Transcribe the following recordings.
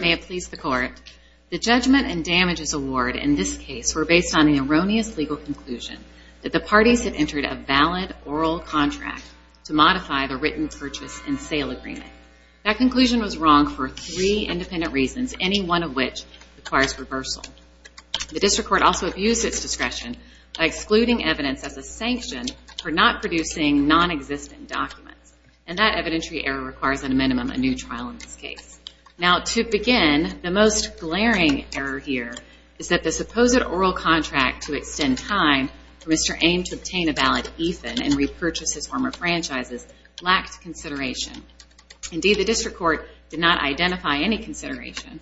May it please the Court, The Judgment and Damages Award in this case were based on the erroneous legal conclusion that the parties had entered a valid oral contract to modify the written purchase and sale agreement. That conclusion was wrong for three independent reasons, any one of which requires reversal. The District Court also abused its discretion by excluding evidence as a sanction for not producing non-existent documents. And that evidentiary error requires, at a minimum, a new trial in this case. Now to begin, the most glaring error here is that the supposed oral contract to extend time for Mr. Aime to obtain a valid ETHN and repurchase his former franchises lacked consideration. Indeed, the District Court did not identify any consideration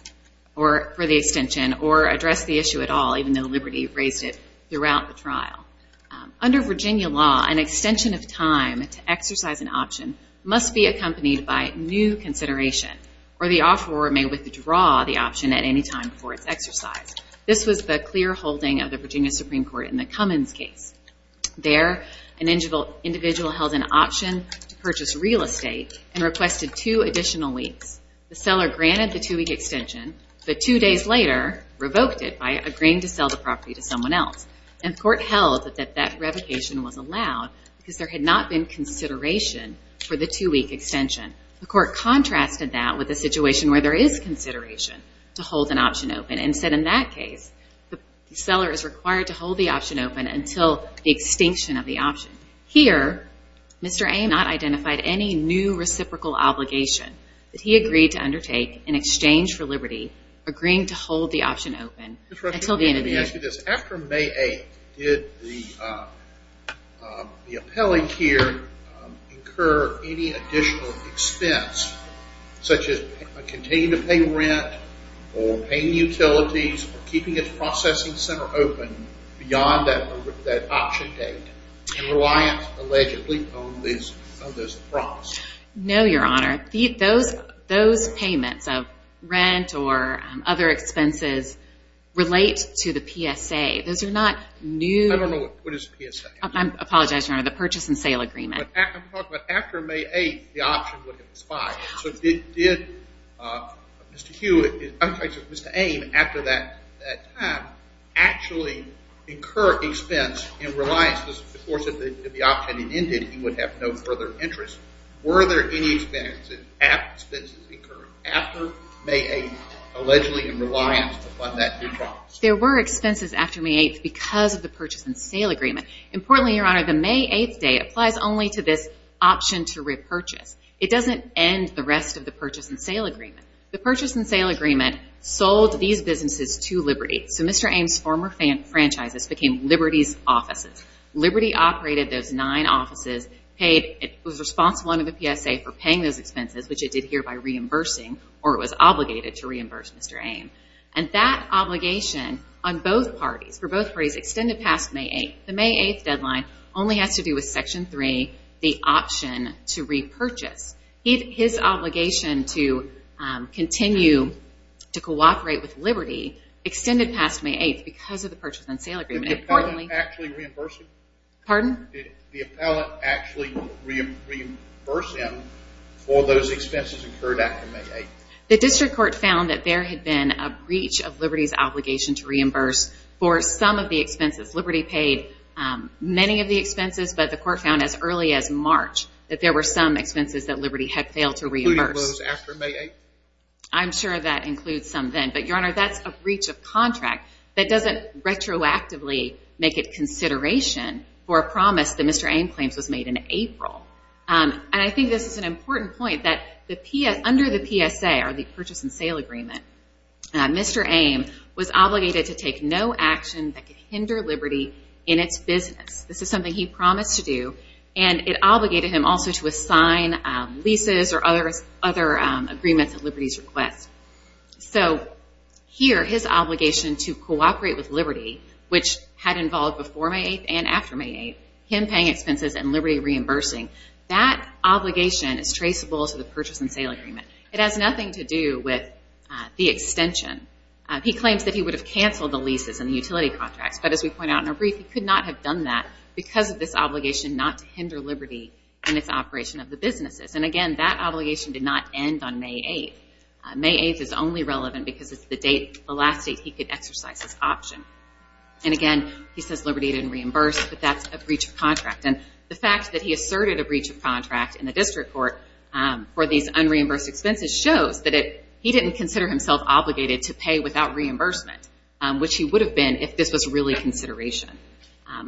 for the extension or address the issue at all, even though Liberty raised it throughout the trial. Under Virginia law, an extension of time to exercise an option must be accompanied by new consideration or the offeror may withdraw the option at any time before it's exercised. This was the clear holding of the Virginia Supreme Court in the Cummins case. There, an individual held an option to purchase real estate and requested two additional weeks. The seller granted the two-week extension, but two days later revoked it by agreeing to sell the property to someone else. And the court held that that revocation was allowed because there had not been consideration for the two-week extension. The court contrasted that with a situation where there is consideration to hold an option open and said in that case the seller is required to hold the option open until the extinction of the option. Here, Mr. Aime not identified any new reciprocal obligation that he agreed to undertake in exchange for Liberty agreeing to hold the option open until the end of the year. Can I ask you this? After May 8th, did the appellee here incur any additional expense, such as continuing to pay rent or paying utilities or keeping its processing center open beyond that option date and reliant, allegedly, on this promise? No, Your Honor. Those payments of rent or other expenses relate to the P.A. and the P.S.A. Those are not new. I don't know what is the P.S.A. I apologize, Your Honor. The purchase and sale agreement. I'm talking about after May 8th, the option would have expired. So did Mr. Hugh, I'm sorry, Mr. Aime, after that time actually incur expense in reliance, of course, if the option ended he would have no further interest. Were there any expenses incurred after May 8th, allegedly in reliance upon that new promise? No. There were expenses after May 8th because of the purchase and sale agreement. Importantly, Your Honor, the May 8th date applies only to this option to repurchase. It doesn't end the rest of the purchase and sale agreement. The purchase and sale agreement sold these businesses to Liberty. So Mr. Aime's former franchises became Liberty's offices. Liberty operated those nine offices. It was responsible under the P.S.A. for paying those expenses, which it did here by reimbursing, or it was obligated to reimburse Mr. Aime. And that obligation on both parties, for both parties, extended past May 8th. The May 8th deadline only has to do with Section 3, the option to repurchase. His obligation to continue to cooperate with Liberty extended past May 8th because of the purchase and sale agreement. Did the appellant actually reimburse him? Pardon? Did the appellant actually reimburse him for those expenses incurred after May 8th? The district court found that there had been a breach of Liberty's obligation to reimburse for some of the expenses. Liberty paid many of the expenses, but the court found as early as March that there were some expenses that Liberty had failed to reimburse. Including those after May 8th? I'm sure that includes some then. But, Your Honor, that's a breach of contract. That doesn't retroactively make it consideration for a promise that Mr. Aime claims was made in April. And I think this is an important point that under the PSA, or the purchase and sale agreement, Mr. Aime was obligated to take no action that could hinder Liberty in its business. This is something he promised to do, and it obligated him also to assign leases or other agreements at Liberty's request. So here, his obligation to cooperate with Liberty, which had involved before May 8th and after May 8th, him paying expenses and Liberty reimbursing, that obligation is traceable to the purchase and sale agreement. It has nothing to do with the extension. He claims that he would have canceled the leases and the utility contracts, but as we point out in our brief, he could not have done that because of this obligation not to hinder Liberty in its operation of the businesses. And again, that obligation did not end on May 8th. May 8th is only relevant because it's the last date he could exercise this option. And again, he says Liberty didn't reimburse, but that's a breach of contract. And the fact that he asserted a breach of contract in the district court for these unreimbursed expenses shows that he didn't consider himself obligated to pay without reimbursement, which he would have been if this was really consideration.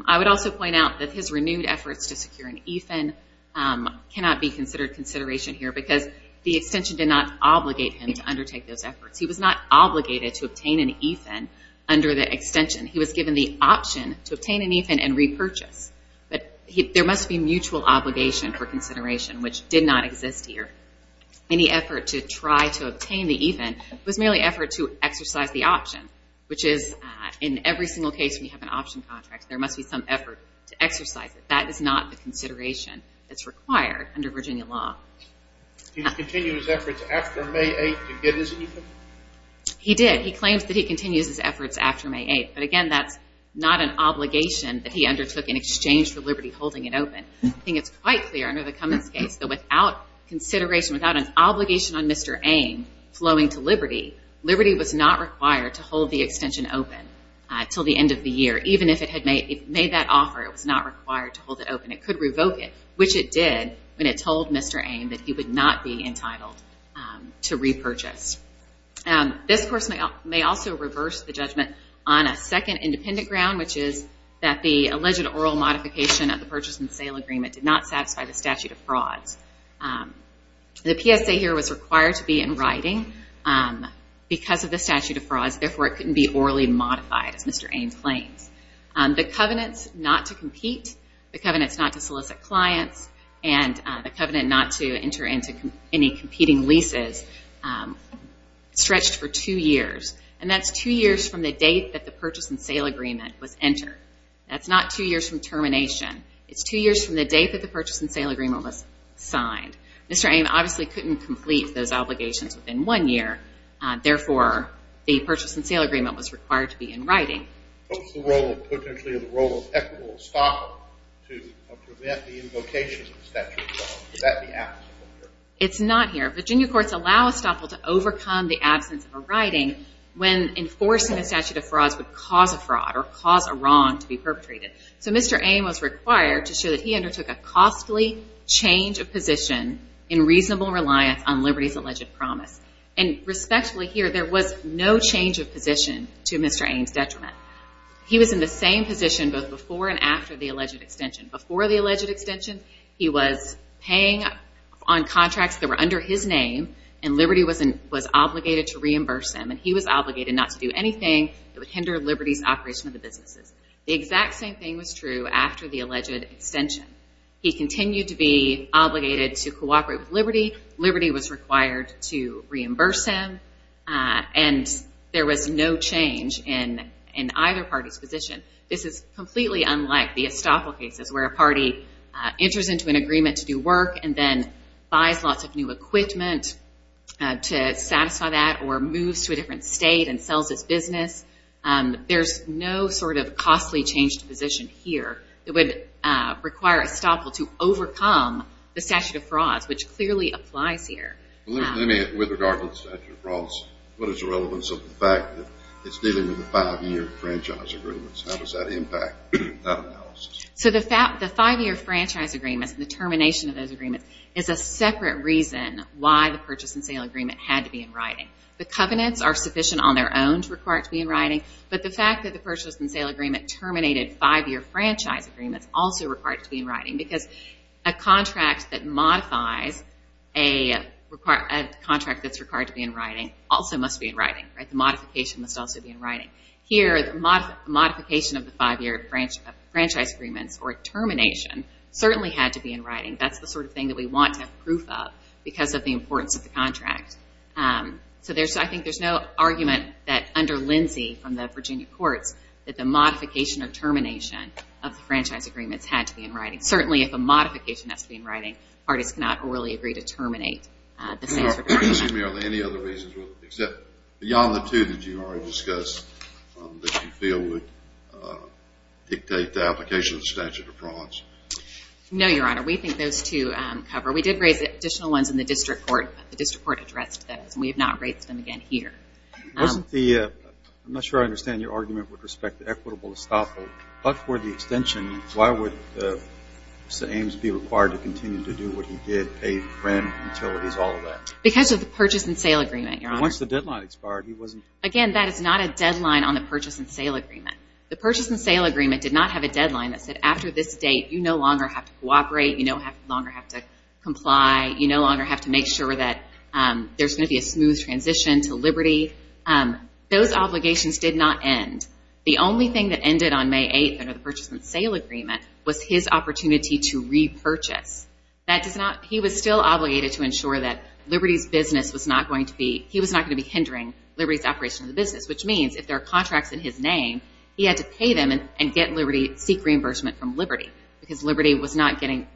I would also point out that his renewed efforts to secure an EFIN cannot be considered consideration here because the extension did not obligate him to undertake those efforts. He was not obligated to obtain an EFIN under the extension. He was given the option to obtain an EFIN and repurchase. But there must be mutual obligation for consideration, which did not exist here. Any effort to try to obtain the EFIN was merely an effort to exercise the option, which is in every single case we have an option contract, there must be some effort to exercise it. That is not the consideration that's required under Virginia law. Did he continue his efforts after May 8th to get his EFIN? He did. He claims that he continues his efforts after May 8th. But again, that's not an obligation that he undertook in exchange for Liberty holding it open. I think it's quite clear under the Cummings case that without consideration, without an obligation on Mr. Ame flowing to Liberty, Liberty was not required to hold the extension open until the end of the year. Even if it had made that offer, it was not required to hold it open. It could revoke it, which it did when it told Mr. Ame that he would not be entitled to repurchase. This, of course, may also reverse the judgment on a second independent ground, which is that the alleged oral modification of the purchase and sale agreement did not satisfy the statute of frauds. The PSA here was required to be in writing because of the statute of frauds, therefore it couldn't be orally modified, as Mr. Ame claims. The covenants not to compete, the covenants not to solicit clients, and the covenant not to enter into any competing leases stretched for two years. And that's two years from the date that the purchase and sale agreement was entered. That's not two years from termination. It's two years from the date that the purchase and sale agreement was signed. Mr. Ame obviously couldn't complete those obligations within one year, therefore the purchase and sale agreement was required to be in writing. What's the role, potentially, of equitable estoppel to prevent the invocation of the statute of frauds? Is that the absence of a hearing? It's not here. Virginia courts allow estoppel to overcome the absence of a writing when enforcing a statute of frauds would cause a fraud or cause a wrong to be perpetrated. So Mr. Ame was required to show that he undertook a costly change of position in reasonable reliance on Liberty's alleged promise. And respectfully, here, there was no change of position to Mr. Ame's detriment. He was in the same position both before and after the alleged extension. Before the alleged extension, he was paying on contracts that were under his name, and Liberty was obligated to reimburse him, and he was obligated not to do anything that would hinder Liberty's operation of the businesses. The exact same thing was true after the alleged extension. He continued to be obligated to cooperate with Liberty. Liberty was required to reimburse him, and there was no change in either party's position. This is completely unlike the estoppel cases where a party enters into an agreement to do work and then buys lots of new equipment to satisfy that or moves to a different state and sells its business. There's no sort of costly change to position here that would require estoppel to overcome the statute of frauds, which clearly applies here. With regard to the statute of frauds, what is the relevance of the fact that it's dealing with a five-year franchise agreement? How does that impact that analysis? So the five-year franchise agreement and the termination of those agreements is a separate reason why the purchase and sale agreement had to be in writing. The covenants are sufficient on their own to require it to be in writing, but the fact that the purchase and sale agreement terminated five-year franchise agreements also required it to be in writing because a contract that's required to be in writing also must be in writing. The modification must also be in writing. Here, the modification of the five-year franchise agreements or termination certainly had to be in writing. That's the sort of thing that we want to have proof of because of the importance of the contract. So I think there's no argument that under Lindsay from the Virginia courts that the modification or termination of the franchise agreements had to be in writing. Certainly, if a modification has to be in writing, parties cannot really agree to terminate the sales or termination. Excuse me, are there any other reasons, except beyond the two that you already discussed, that you feel would dictate the application of the statute of frauds? No, Your Honor. We think those two cover. We did raise additional ones in the district court, but the district court addressed those, and we have not raised them again here. I'm not sure I understand your argument with respect to equitable estoppel, but for the extension, why would Mr. Ames be required to continue to do what he did, pay rent, utilities, all of that? Because of the purchase and sale agreement, Your Honor. Once the deadline expired, he wasn't? Again, that is not a deadline on the purchase and sale agreement. The purchase and sale agreement did not have a deadline that said, after this date, you no longer have to cooperate, you no longer have to comply, you no longer have to make sure that there's going to be a smooth transition to Liberty. Those obligations did not end. The only thing that ended on May 8th under the purchase and sale agreement was his opportunity to repurchase. He was still obligated to ensure that Liberty's business was not going to be, he was not going to be hindering Liberty's operation of the business, which means if there are contracts in his name, he had to pay them and get Liberty, seek reimbursement from Liberty, because Liberty was not getting,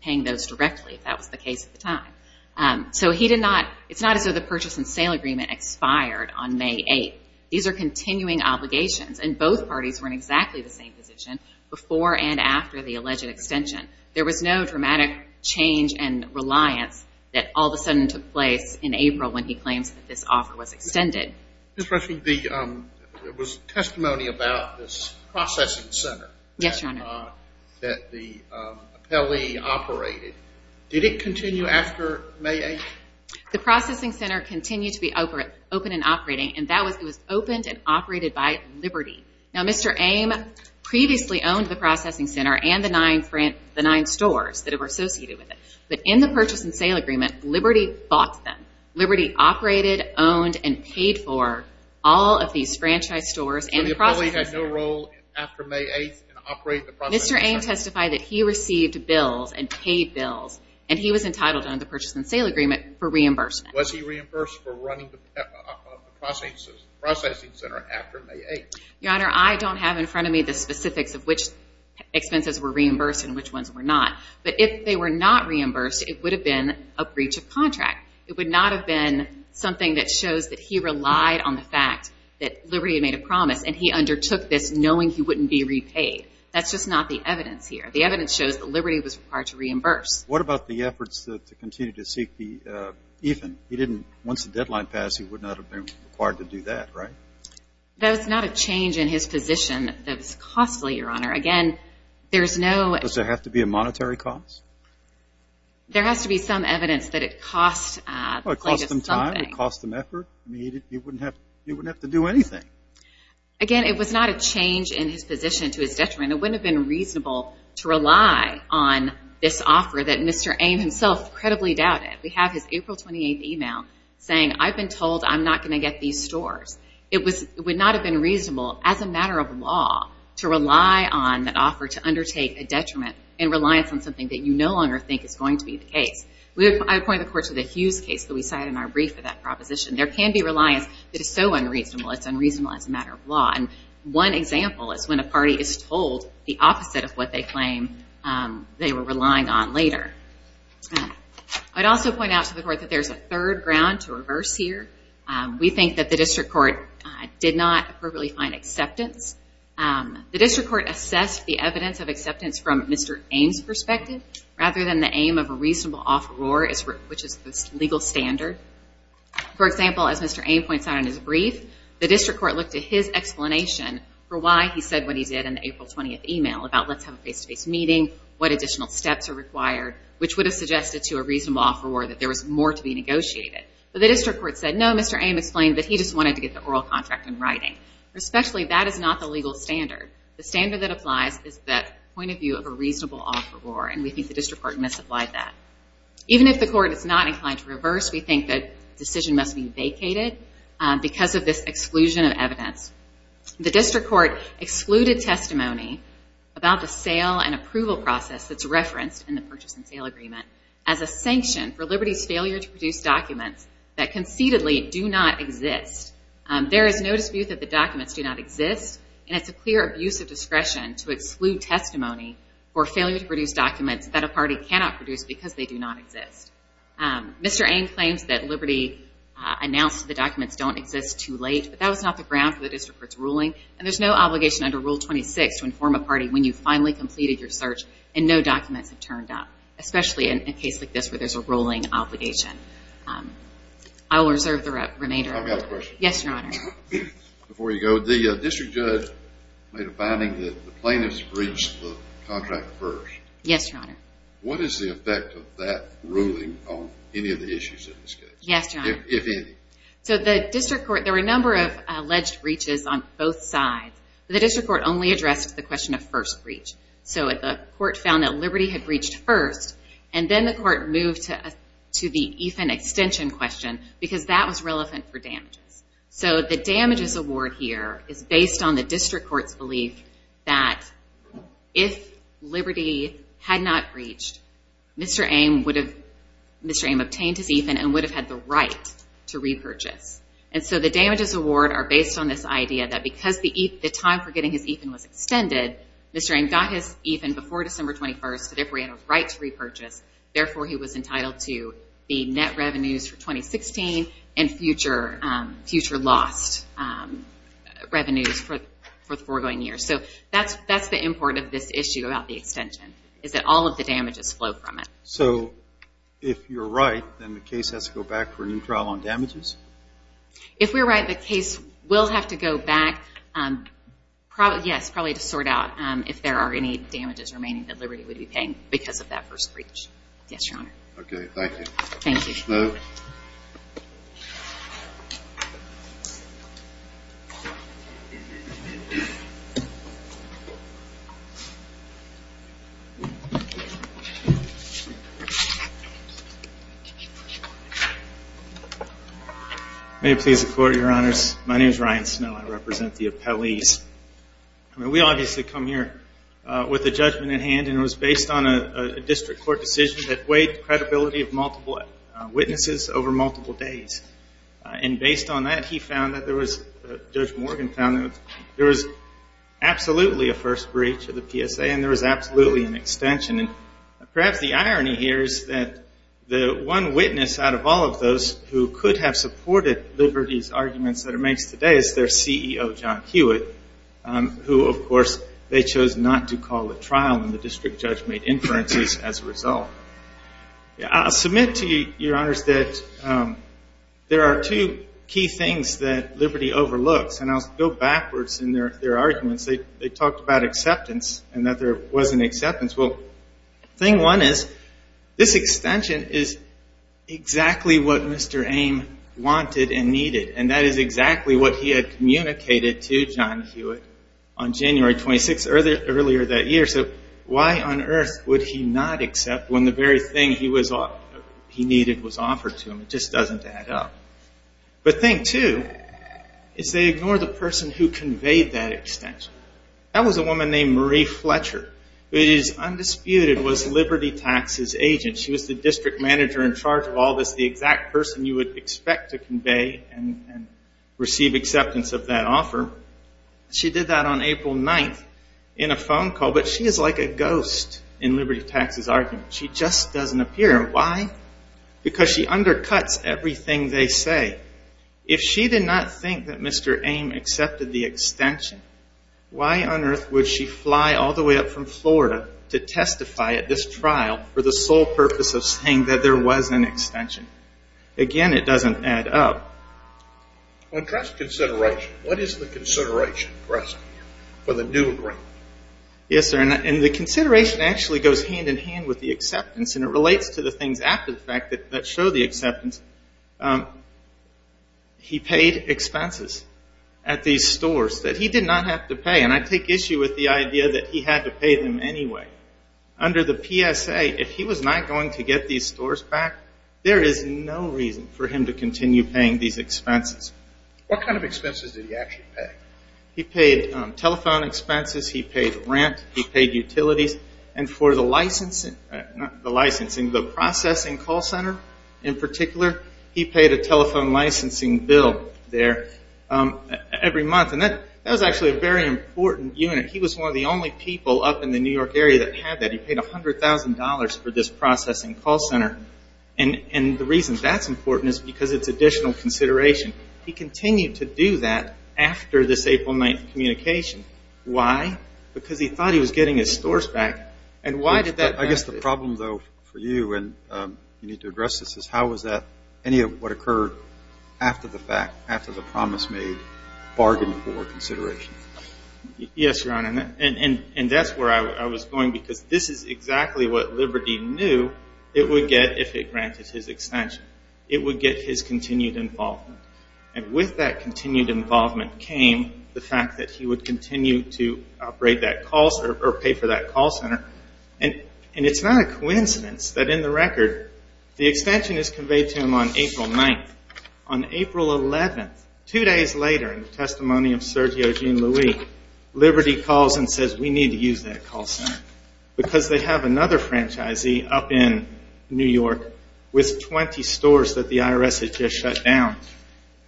paying those directly, if that was the case at the time. So he did not, it's not as though the purchase and sale agreement expired on May 8th. These are continuing obligations, and both parties were in exactly the same position before and after the alleged extension. There was no dramatic change in reliance that all of a sudden took place in April when he claims that this offer was extended. Ms. Rushing, there was testimony about this processing center. Yes, Your Honor. That the appellee operated. Did it continue after May 8th? The processing center continued to be open and operating, and it was opened and operated by Liberty. Now, Mr. Ame previously owned the processing center and the nine stores that were associated with it, but in the purchase and sale agreement, Liberty bought them. Liberty operated, owned, and paid for all of these franchise stores and the processing center. So the appellee had no role after May 8th in operating the processing center? Mr. Ame testified that he received bills and paid bills, and he was entitled under the purchase and sale agreement for reimbursement. Was he reimbursed for running the processing center after May 8th? Your Honor, I don't have in front of me the specifics of which expenses were reimbursed and which ones were not, but if they were not reimbursed, it would have been a breach of contract. It would not have been something that shows that he relied on the fact that Liberty had made a promise, and he undertook this knowing he wouldn't be repaid. That's just not the evidence here. The evidence shows that Liberty was required to reimburse. What about the efforts to continue to seek the even? He didn't. Once the deadline passed, he would not have been required to do that, right? That was not a change in his position. That was costly, Your Honor. Again, there's no— Does there have to be a monetary cost? There has to be some evidence that it cost something. Well, it cost him time. It cost him effort. He wouldn't have to do anything. Again, it was not a change in his position to his detriment. It wouldn't have been reasonable to rely on this offer that Mr. Ame himself credibly doubted. We have his April 28th email saying, I've been told I'm not going to get these stores. It would not have been reasonable as a matter of law to rely on that offer to undertake a detriment and reliance on something that you no longer think is going to be the case. I point the court to the Hughes case that we cited in our brief for that proposition. There can be reliance that is so unreasonable, it's unreasonable as a matter of law. And one example is when a party is told the opposite of what they claim they were relying on later. I'd also point out to the court that there's a third ground to reverse here. We think that the district court did not appropriately find acceptance. The district court assessed the evidence of acceptance from Mr. Ame's perspective rather than the aim of a reasonable offeror, which is the legal standard. For example, as Mr. Ame points out in his brief, the district court looked at his explanation for why he said what he did in the April 20th email about let's have a face-to-face meeting, what additional steps are required, which would have suggested to a reasonable offeror that there was more to be negotiated. But the district court said, no, Mr. Ame explained that he just wanted to get the oral contract in writing. Respectfully, that is not the legal standard. The standard that applies is the point of view of a reasonable offeror, and we think the district court misapplied that. Even if the court is not inclined to reverse, we think that the decision must be vacated because of this exclusion of evidence. The district court excluded testimony about the sale and approval process that's referenced in the purchase and sale agreement as a sanction for Liberty's failure to produce documents that conceitedly do not exist. There is no dispute that the documents do not exist, and it's a clear abuse of discretion to exclude testimony for failure to produce documents that a party cannot produce because they do not exist. Mr. Ame claims that Liberty announced the documents don't exist too late, but that was not the ground for the district court's ruling, and there's no obligation under Rule 26 to inform a party when you've finally completed your search and no documents have turned up, especially in a case like this where there's a ruling obligation. I will reserve the remainder of my time. I've got a question. Yes, Your Honor. Before you go, the district judge made a finding that the plaintiffs breached the contract first. Yes, Your Honor. What is the effect of that ruling on any of the issues in this case? Yes, Your Honor. If any. So the district court, there were a number of alleged breaches on both sides, but the district court only addressed the question of first breach. So the court found that Liberty had breached first, and then the court moved to the EFIN extension question because that was relevant for damages. So the damages award here is based on the district court's belief that if Liberty had not breached, Mr. Ame obtained his EFIN and would have had the right to repurchase. And so the damages award are based on this idea that because the time for getting his EFIN was extended, Mr. Ame got his EFIN before December 21st, so therefore he had a right to repurchase. Therefore, he was entitled to the net revenues for 2016 and future lost revenues for the foregoing year. So that's the import of this issue about the extension is that all of the damages flow from it. So if you're right, then the case has to go back for a new trial on damages? If we're right, the case will have to go back, yes, probably to sort out if there are any damages remaining that Liberty would be paying because of that first breach. Yes, Your Honor. Okay, thank you. Thank you. Mr. Snow. May it please the Court, Your Honors. My name is Ryan Snow. I represent the appellees. I mean, we obviously come here with a judgment at hand, and it was based on a district court decision that weighed the credibility of multiple witnesses over multiple days. And based on that, he found that there was, Judge Morgan found that there was absolutely a first breach of the PSA and there was absolutely an extension. And perhaps the irony here is that the one witness out of all of those who could have supported Liberty's arguments that it makes today is their CEO, John Hewitt, who, of course, they chose not to call a trial, and the district judge made inferences as a result. I'll submit to you, Your Honors, that there are two key things that Liberty overlooks, and I'll go backwards in their arguments. They talked about acceptance and that there wasn't acceptance. Well, thing one is this extension is exactly what Mr. Ame wanted and needed, and that is exactly what he had communicated to John Hewitt on January 26th, earlier that year. So why on earth would he not accept when the very thing he needed was offered to him? It just doesn't add up. But thing two is they ignore the person who conveyed that extension. That was a woman named Marie Fletcher, who is undisputed was Liberty Tax's agent. She was the district manager in charge of all this, the exact person you would expect to convey and receive acceptance of that offer. She did that on April 9th in a phone call, but she is like a ghost in Liberty Tax's argument. She just doesn't appear. Why? Because she undercuts everything they say. If she did not think that Mr. Ame accepted the extension, why on earth would she fly all the way up from Florida to testify at this trial for the sole purpose of saying that there was an extension? Again, it doesn't add up. What is the consideration for the new agreement? Yes, sir, and the consideration actually goes hand in hand with the acceptance, and it relates to the things after the fact that show the acceptance. He paid expenses at these stores that he did not have to pay, and I take issue with the idea that he had to pay them anyway. Under the PSA, if he was not going to get these stores back, there is no reason for him to continue paying these expenses. What kind of expenses did he actually pay? He paid telephone expenses, he paid rent, he paid utilities, and for the licensing, the processing call center in particular, he paid a telephone licensing bill there every month, and that was actually a very important unit. He was one of the only people up in the New York area that had that. He paid $100,000 for this processing call center, and the reason that's important is because it's additional consideration. He continued to do that after this April 9th communication. Why? Because he thought he was getting his stores back, and why did that happen? I guess the problem, though, for you, and you need to address this, is how was that, any of what occurred after the fact, after the promise made, bargained for consideration? Yes, Your Honor, and that's where I was going because this is exactly what Liberty knew it would get if it granted his extension. It would get his continued involvement, and with that continued involvement came the fact that he would continue to pay for that call center, and it's not a coincidence that in the record, the extension is conveyed to him on April 9th. On April 11th, two days later, in the testimony of Sergio Jean-Louis, Liberty calls and says, we need to use that call center because they have another franchisee up in New York with 20 stores that the IRS has just shut down,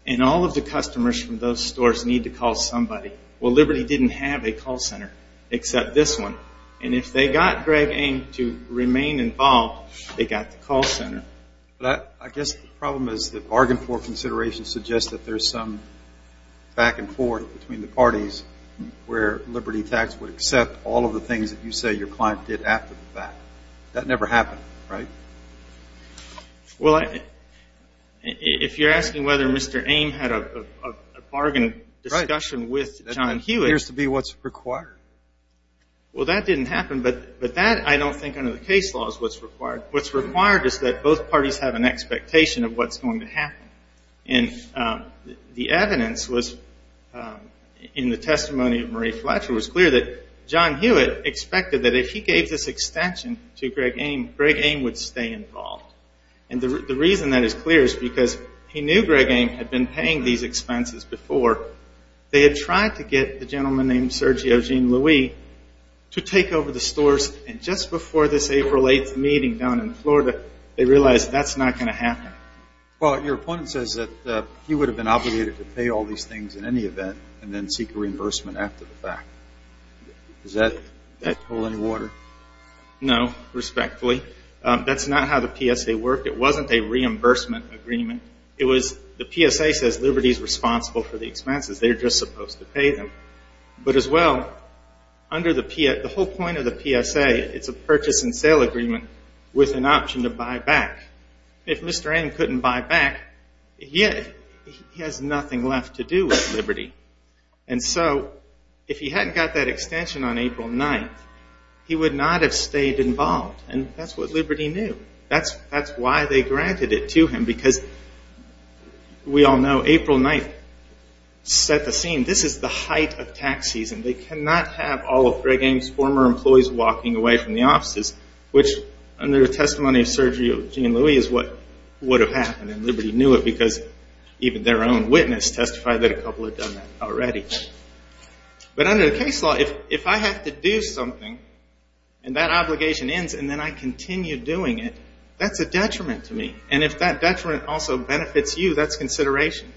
and all of the customers from those stores need to call somebody. Well, Liberty didn't have a call center except this one, and if they got Greg Ame to remain involved, they got the call center. I guess the problem is that bargain for consideration suggests that there's some back and forth between the parties where Liberty Tax would accept all of the things that you say your client did after the fact. That never happened, right? Well, if you're asking whether Mr. Ame had a bargain discussion with John Hewitt. That appears to be what's required. Well, that didn't happen, but that I don't think under the case law is what's required. What's required is that both parties have an expectation of what's going to happen, and the evidence was in the testimony of Marie Fletcher was clear that John Hewitt expected that if he gave this extension to Greg Ame, Greg Ame would stay involved. And the reason that is clear is because he knew Greg Ame had been paying these expenses before. They had tried to get the gentleman named Sergio Jean-Louis to take over the stores, and just before this April 8th meeting down in Florida, they realized that's not going to happen. Well, your opponent says that he would have been obligated to pay all these things in any event and then seek a reimbursement after the fact. Does that hold any water? No, respectfully. That's not how the PSA worked. It wasn't a reimbursement agreement. The PSA says Liberty is responsible for the expenses. They're just supposed to pay them. But as well, the whole point of the PSA, it's a purchase and sale agreement with an option to buy back. If Mr. Ame couldn't buy back, he has nothing left to do with Liberty. And so if he hadn't got that extension on April 9th, he would not have stayed involved. And that's what Liberty knew. That's why they granted it to him, because we all know April 9th set the scene. This is the height of tax season. They cannot have all of Greg Ame's former employees walking away from the offices, which under the testimony of Sergio Jean-Louis is what would have happened. And Liberty knew it because even their own witness testified that a couple had done that already. But under the case law, if I have to do something and that obligation ends and then I continue doing it, that's a detriment to me. And if that detriment also benefits you, that's consideration.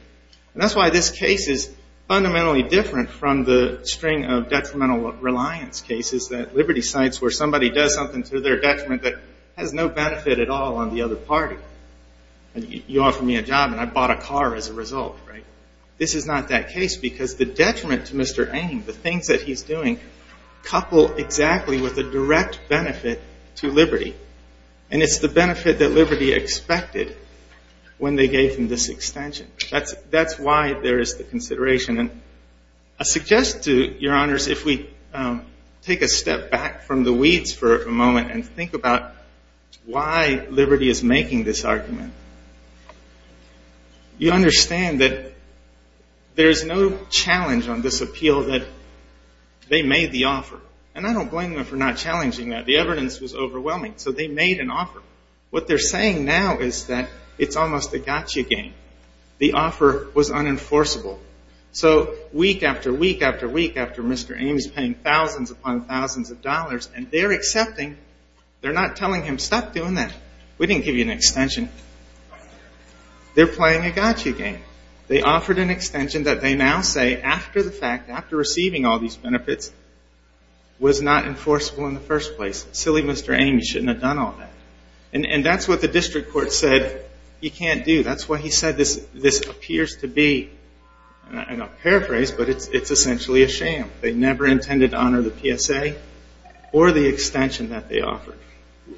And that's why this case is fundamentally different from the string of detrimental reliance cases that Liberty cites where somebody does something to their detriment that has no benefit at all on the other party. You offer me a job and I bought a car as a result. This is not that case because the detriment to Mr. Ame, the things that he's doing, couple exactly with the direct benefit to Liberty. And it's the benefit that Liberty expected when they gave him this extension. That's why there is the consideration. I suggest to your honors if we take a step back from the weeds for a moment and think about why Liberty is making this argument. You understand that there is no challenge on this appeal that they made the offer. And I don't blame them for not challenging that. The evidence was overwhelming. So they made an offer. What they're saying now is that it's almost a gotcha game. The offer was unenforceable. So week after week after week after Mr. Ame is paying thousands upon thousands of dollars and they're accepting, they're not telling him, stop doing that. We didn't give you an extension. They're playing a gotcha game. They offered an extension that they now say after the fact, after receiving all these benefits, was not enforceable in the first place. Silly Mr. Ame, he shouldn't have done all that. And that's what the district court said he can't do. That's why he said this appears to be, and I'll paraphrase, but it's essentially a sham. They never intended to honor the PSA or the extension that they offered.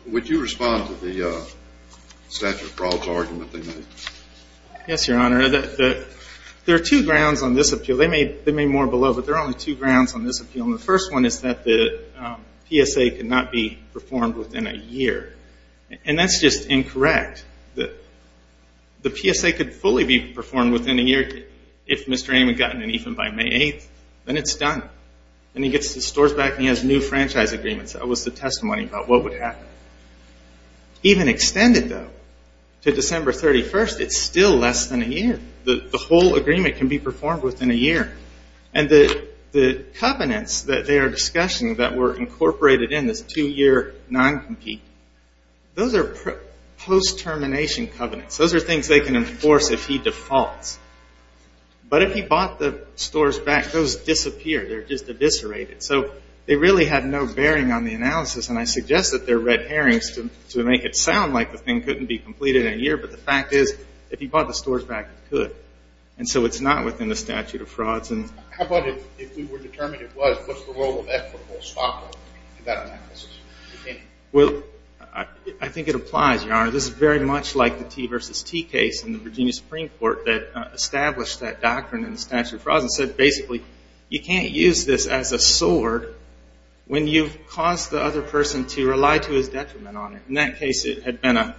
Would you respond to the statute of frauds argument they made? Yes, Your Honor. There are two grounds on this appeal. They may be more below, but there are only two grounds on this appeal. And the first one is that the PSA cannot be performed within a year. And that's just incorrect. The PSA could fully be performed within a year if Mr. Ame had gotten it even by May 8th. Then it's done. Then he gets the stores back and he has new franchise agreements. That was the testimony about what would happen. Even extended, though, to December 31st, it's still less than a year. The whole agreement can be performed within a year. And the covenants that they are discussing that were incorporated in this two-year non-compete, those are post-termination covenants. Those are things they can enforce if he defaults. But if he bought the stores back, those disappear. They're just eviscerated. So they really had no bearing on the analysis. And I suggest that they're red herrings to make it sound like the thing couldn't be completed in a year. But the fact is, if he bought the stores back, it could. And so it's not within the statute of frauds. How about if we were determined it was, what's the role of equitable stockholding in that analysis? Well, I think it applies, Your Honor. This is very much like the T versus T case in the Virginia Supreme Court that established that doctrine in the statute of frauds and said basically you can't use this as a sword when you've caused the other person to rely to his detriment on it. In that case, it had been a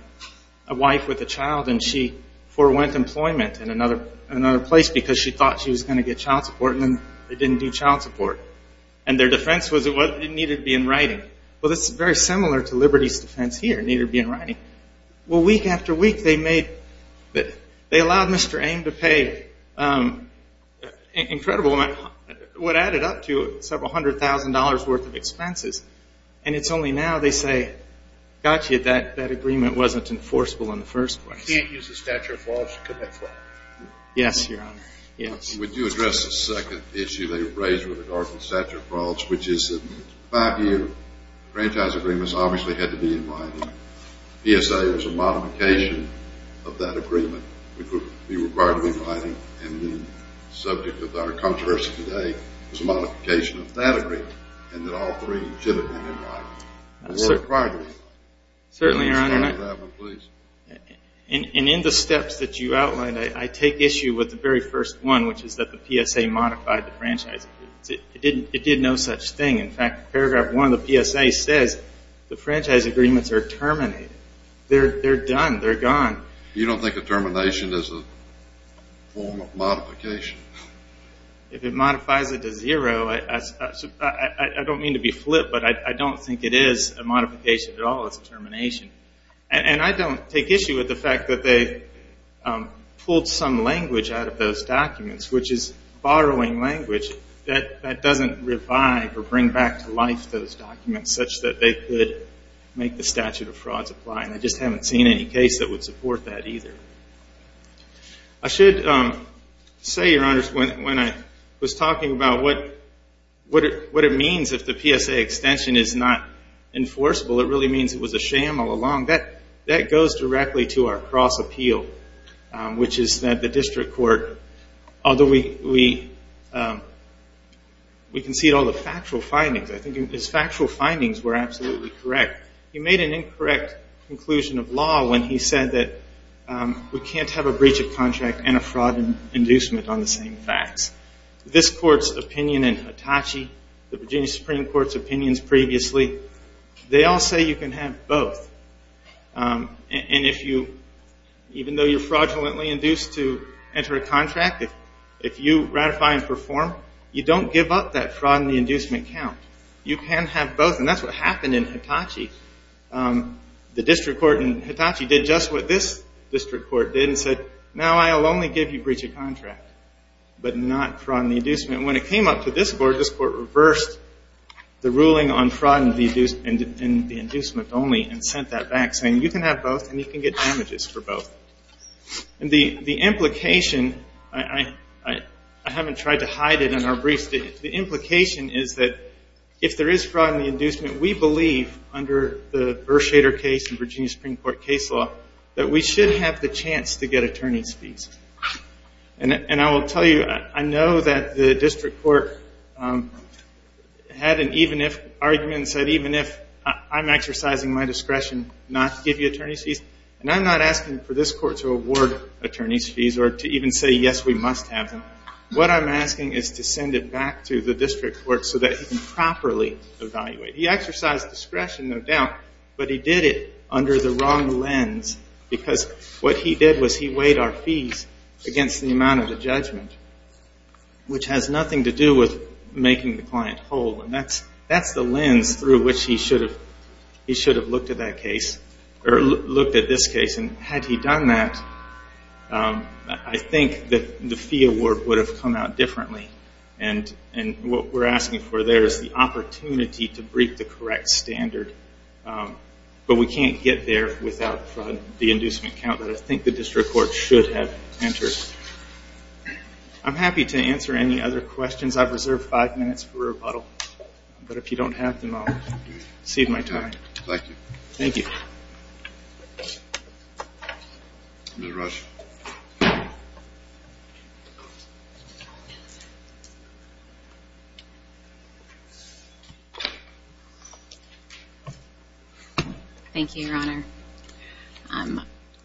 wife with a child, and she forewent employment in another place because she thought she was going to get child support, and then they didn't do child support. And their defense was it needed to be in writing. Well, this is very similar to Liberty's defense here, it needed to be in writing. Well, week after week, they allowed Mr. Ame to pay incredible, what added up to several hundred thousand dollars worth of expenses. And it's only now they say, got you, that agreement wasn't enforceable in the first place. You can't use the statute of frauds to commit fraud. Yes, Your Honor. Yes. Would you address the second issue they raised with the doctrine of statute of frauds, which is that five-year franchise agreements obviously had to be in writing. PSA was a modification of that agreement, which would be required to be in writing, and the subject of our controversy today was a modification of that agreement, and that all three should have been in writing. Certainly, Your Honor, and in the steps that you outlined, I take issue with the very first one, which is that the PSA modified the franchise agreements. It did no such thing. In fact, paragraph one of the PSA says the franchise agreements are terminated. They're done. They're gone. You don't think a termination is a form of modification? If it modifies it to zero, I don't mean to be flip, but I don't think it is a modification at all. It's a termination. And I don't take issue with the fact that they pulled some language out of those documents, which is borrowing language that doesn't revive or bring back to life those documents such that they could make the statute of frauds apply, and I just haven't seen any case that would support that either. I should say, Your Honors, when I was talking about what it means if the PSA extension is not enforceable, it really means it was a sham all along. That goes directly to our cross-appeal, which is that the district court, although we concede all the factual findings, I think his factual findings were absolutely correct. He made an incorrect conclusion of law when he said that we can't have a breach of contract and a fraud inducement on the same facts. This Court's opinion in Hitachi, the Virginia Supreme Court's opinions previously, they all say you can have both. And even though you're fraudulently induced to enter a contract, if you ratify and perform, you don't give up that fraud and the inducement count. You can have both, and that's what happened in Hitachi. The district court in Hitachi did just what this district court did and said, now I'll only give you breach of contract but not fraud and the inducement. When it came up to this Court, this Court reversed the ruling on fraud and the inducement only and sent that back saying you can have both and you can get damages for both. The implication, I haven't tried to hide it in our briefs. The implication is that if there is fraud and the inducement, we believe under the Bershader case and Virginia Supreme Court case law that we should have the chance to get attorney's fees. And I will tell you, I know that the district court had an even if argument and said even if I'm exercising my discretion not to give you attorney's fees, and I'm not asking for this Court to award attorney's fees or to even say yes, we must have them. What I'm asking is to send it back to the district court so that he can properly evaluate. He exercised discretion, no doubt, but he did it under the wrong lens because what he did was he weighed our fees against the amount of the judgment, which has nothing to do with making the client whole. And that's the lens through which he should have looked at that case or looked at this case. And had he done that, I think that the fee award would have come out differently. And what we're asking for there is the opportunity to break the correct standard. But we can't get there without the inducement count that I think the district court should have entered. I'm happy to answer any other questions. I've reserved five minutes for rebuttal. But if you don't have them, I'll cede my time. Thank you. Thank you. Ms. Rush. Thank you, Your Honor.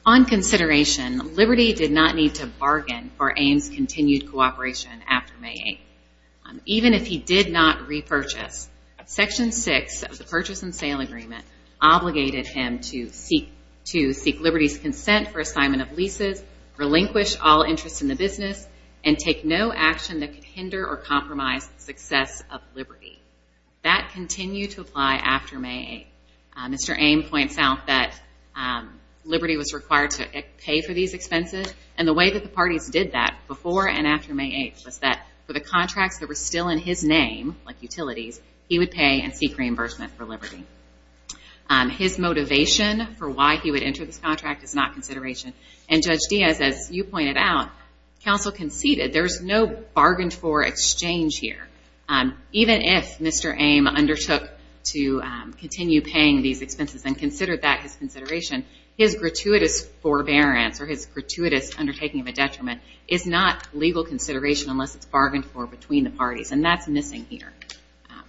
On consideration, Liberty did not need to bargain for Ames' continued cooperation after May 8th. Even if he did not repurchase, Section 6 of the Purchase and Sale Agreement obligated him to seek Liberty's consent for assignment of leases, relinquish all interest in the business, and take no action that could hinder or compromise the success of Liberty. That continued to apply after May 8th. Mr. Ames points out that Liberty was required to pay for these expenses. And the way that the parties did that before and after May 8th was that for the contracts that were still in his name, like utilities, he would pay and seek reimbursement for Liberty. His motivation for why he would enter this contract is not consideration. And Judge Diaz, as you pointed out, counsel conceded. There's no bargained-for exchange here. Even if Mr. Ames undertook to continue paying these expenses and considered that his consideration, his gratuitous forbearance or his gratuitous undertaking of a detriment is not legal consideration unless it's bargained for between the parties, and that's missing here.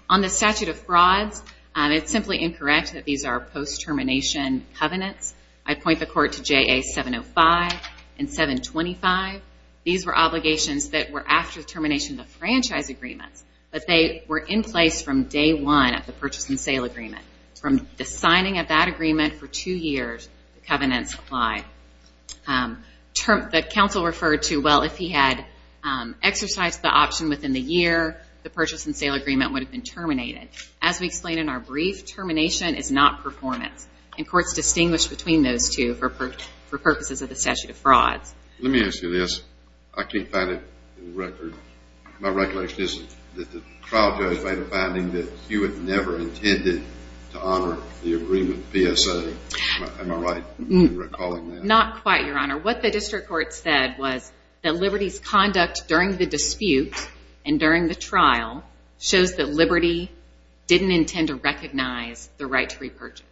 On the statute of frauds, it's simply incorrect that these are post-termination covenants. I point the court to JA 705 and 725. These were obligations that were after the termination of the franchise agreements, but they were in place from day one of the Purchase and Sale Agreement. From the signing of that agreement for two years, the covenants apply. The counsel referred to, well, if he had exercised the option within the year, the Purchase and Sale Agreement would have been terminated. As we explained in our brief, termination is not performance, and courts distinguish between those two for purposes of the statute of frauds. Let me ask you this. I can't find it in the record. My regulation is that the trial judge made a finding that he would never have intended to honor the agreement PSA. Am I right in recalling that? Not quite, Your Honor. What the district court said was that Liberty's conduct during the dispute and during the trial shows that Liberty didn't intend to recognize the right to repurchase.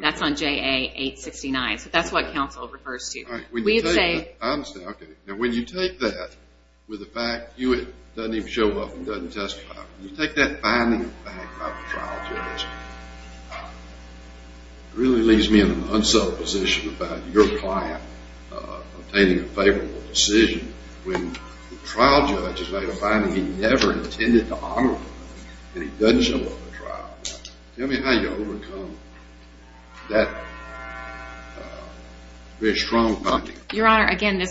That's on JA 869. So that's what counsel refers to. When you take that with the fact that it doesn't even show up and doesn't testify, when you take that finding back by the trial judge, it really leaves me in an unsettled position about your client obtaining a favorable decision when the trial judge has made a finding he never intended to honor the agreement and he doesn't show up at trial. Tell me how you overcome that very strong finding. Your Honor, again,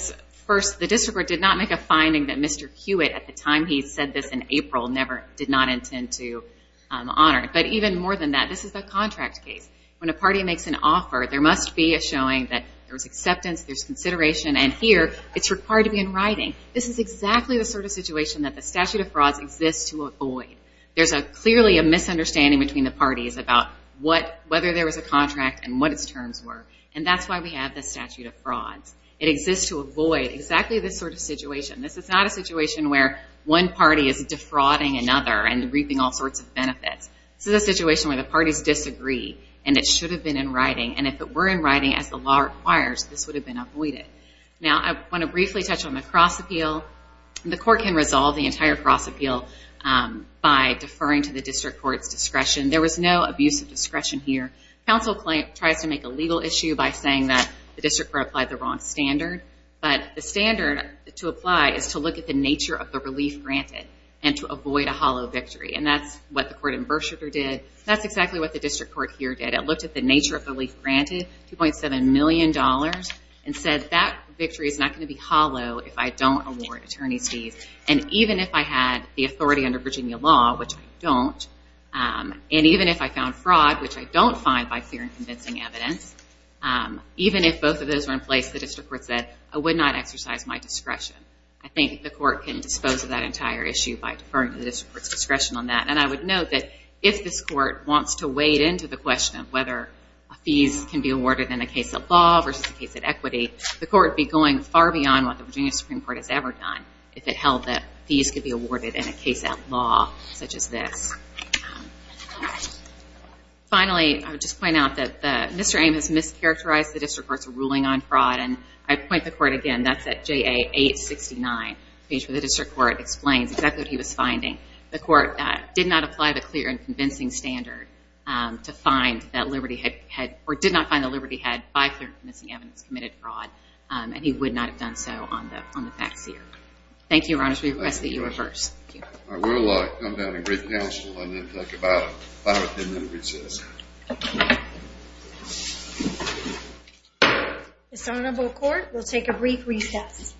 first, the district court did not make a finding that Mr. Hewitt, at the time he said this in April, never did not intend to honor it. But even more than that, this is a contract case. When a party makes an offer, there must be a showing that there's acceptance, there's consideration, and here it's required to be in writing. This is exactly the sort of situation that the statute of frauds exists to avoid. There's clearly a misunderstanding between the parties about whether there was a contract and what its terms were, and that's why we have the statute of frauds. It exists to avoid exactly this sort of situation. This is not a situation where one party is defrauding another and reaping all sorts of benefits. This is a situation where the parties disagree, and it should have been in writing, and if it were in writing as the law requires, this would have been avoided. Now I want to briefly touch on the cross appeal. The court can resolve the entire cross appeal by deferring to the district court's discretion. There was no abuse of discretion here. Counsel tries to make a legal issue by saying that the district court applied the wrong standard, but the standard to apply is to look at the nature of the relief granted and to avoid a hollow victory, and that's what the court in Berkshire did. That's exactly what the district court here did. It looked at the nature of the relief granted, $2.7 million, and said that victory is not going to be hollow if I don't award attorney's fees, and even if I had the authority under Virginia law, which I don't, and even if I found fraud, which I don't find by clear and convincing evidence, even if both of those were in place, the district court said, I would not exercise my discretion. I think the court can dispose of that entire issue by deferring to the district court's discretion on that, and I would note that if this court wants to wade into the question of whether fees can be awarded in a case of law versus a case of equity, the court would be going far beyond what the Virginia Supreme Court has ever done if it held that fees could be awarded in a case of law such as this. Finally, I would just point out that Mr. Ames mischaracterized the district court's ruling on fraud, and I'd point the court again. That's at JA 869. The district court explains exactly what he was finding. The court did not apply the clear and convincing standard to find that Liberty had, or did not find that Liberty had, by clear and convincing evidence, committed fraud, and he would not have done so on the facts here. Thank you, Your Honors. We request that you reverse. Thank you. I will come down and bring counsel and then talk about it. If I have a 10-minute recess. Okay. This honorable court will take a brief recess.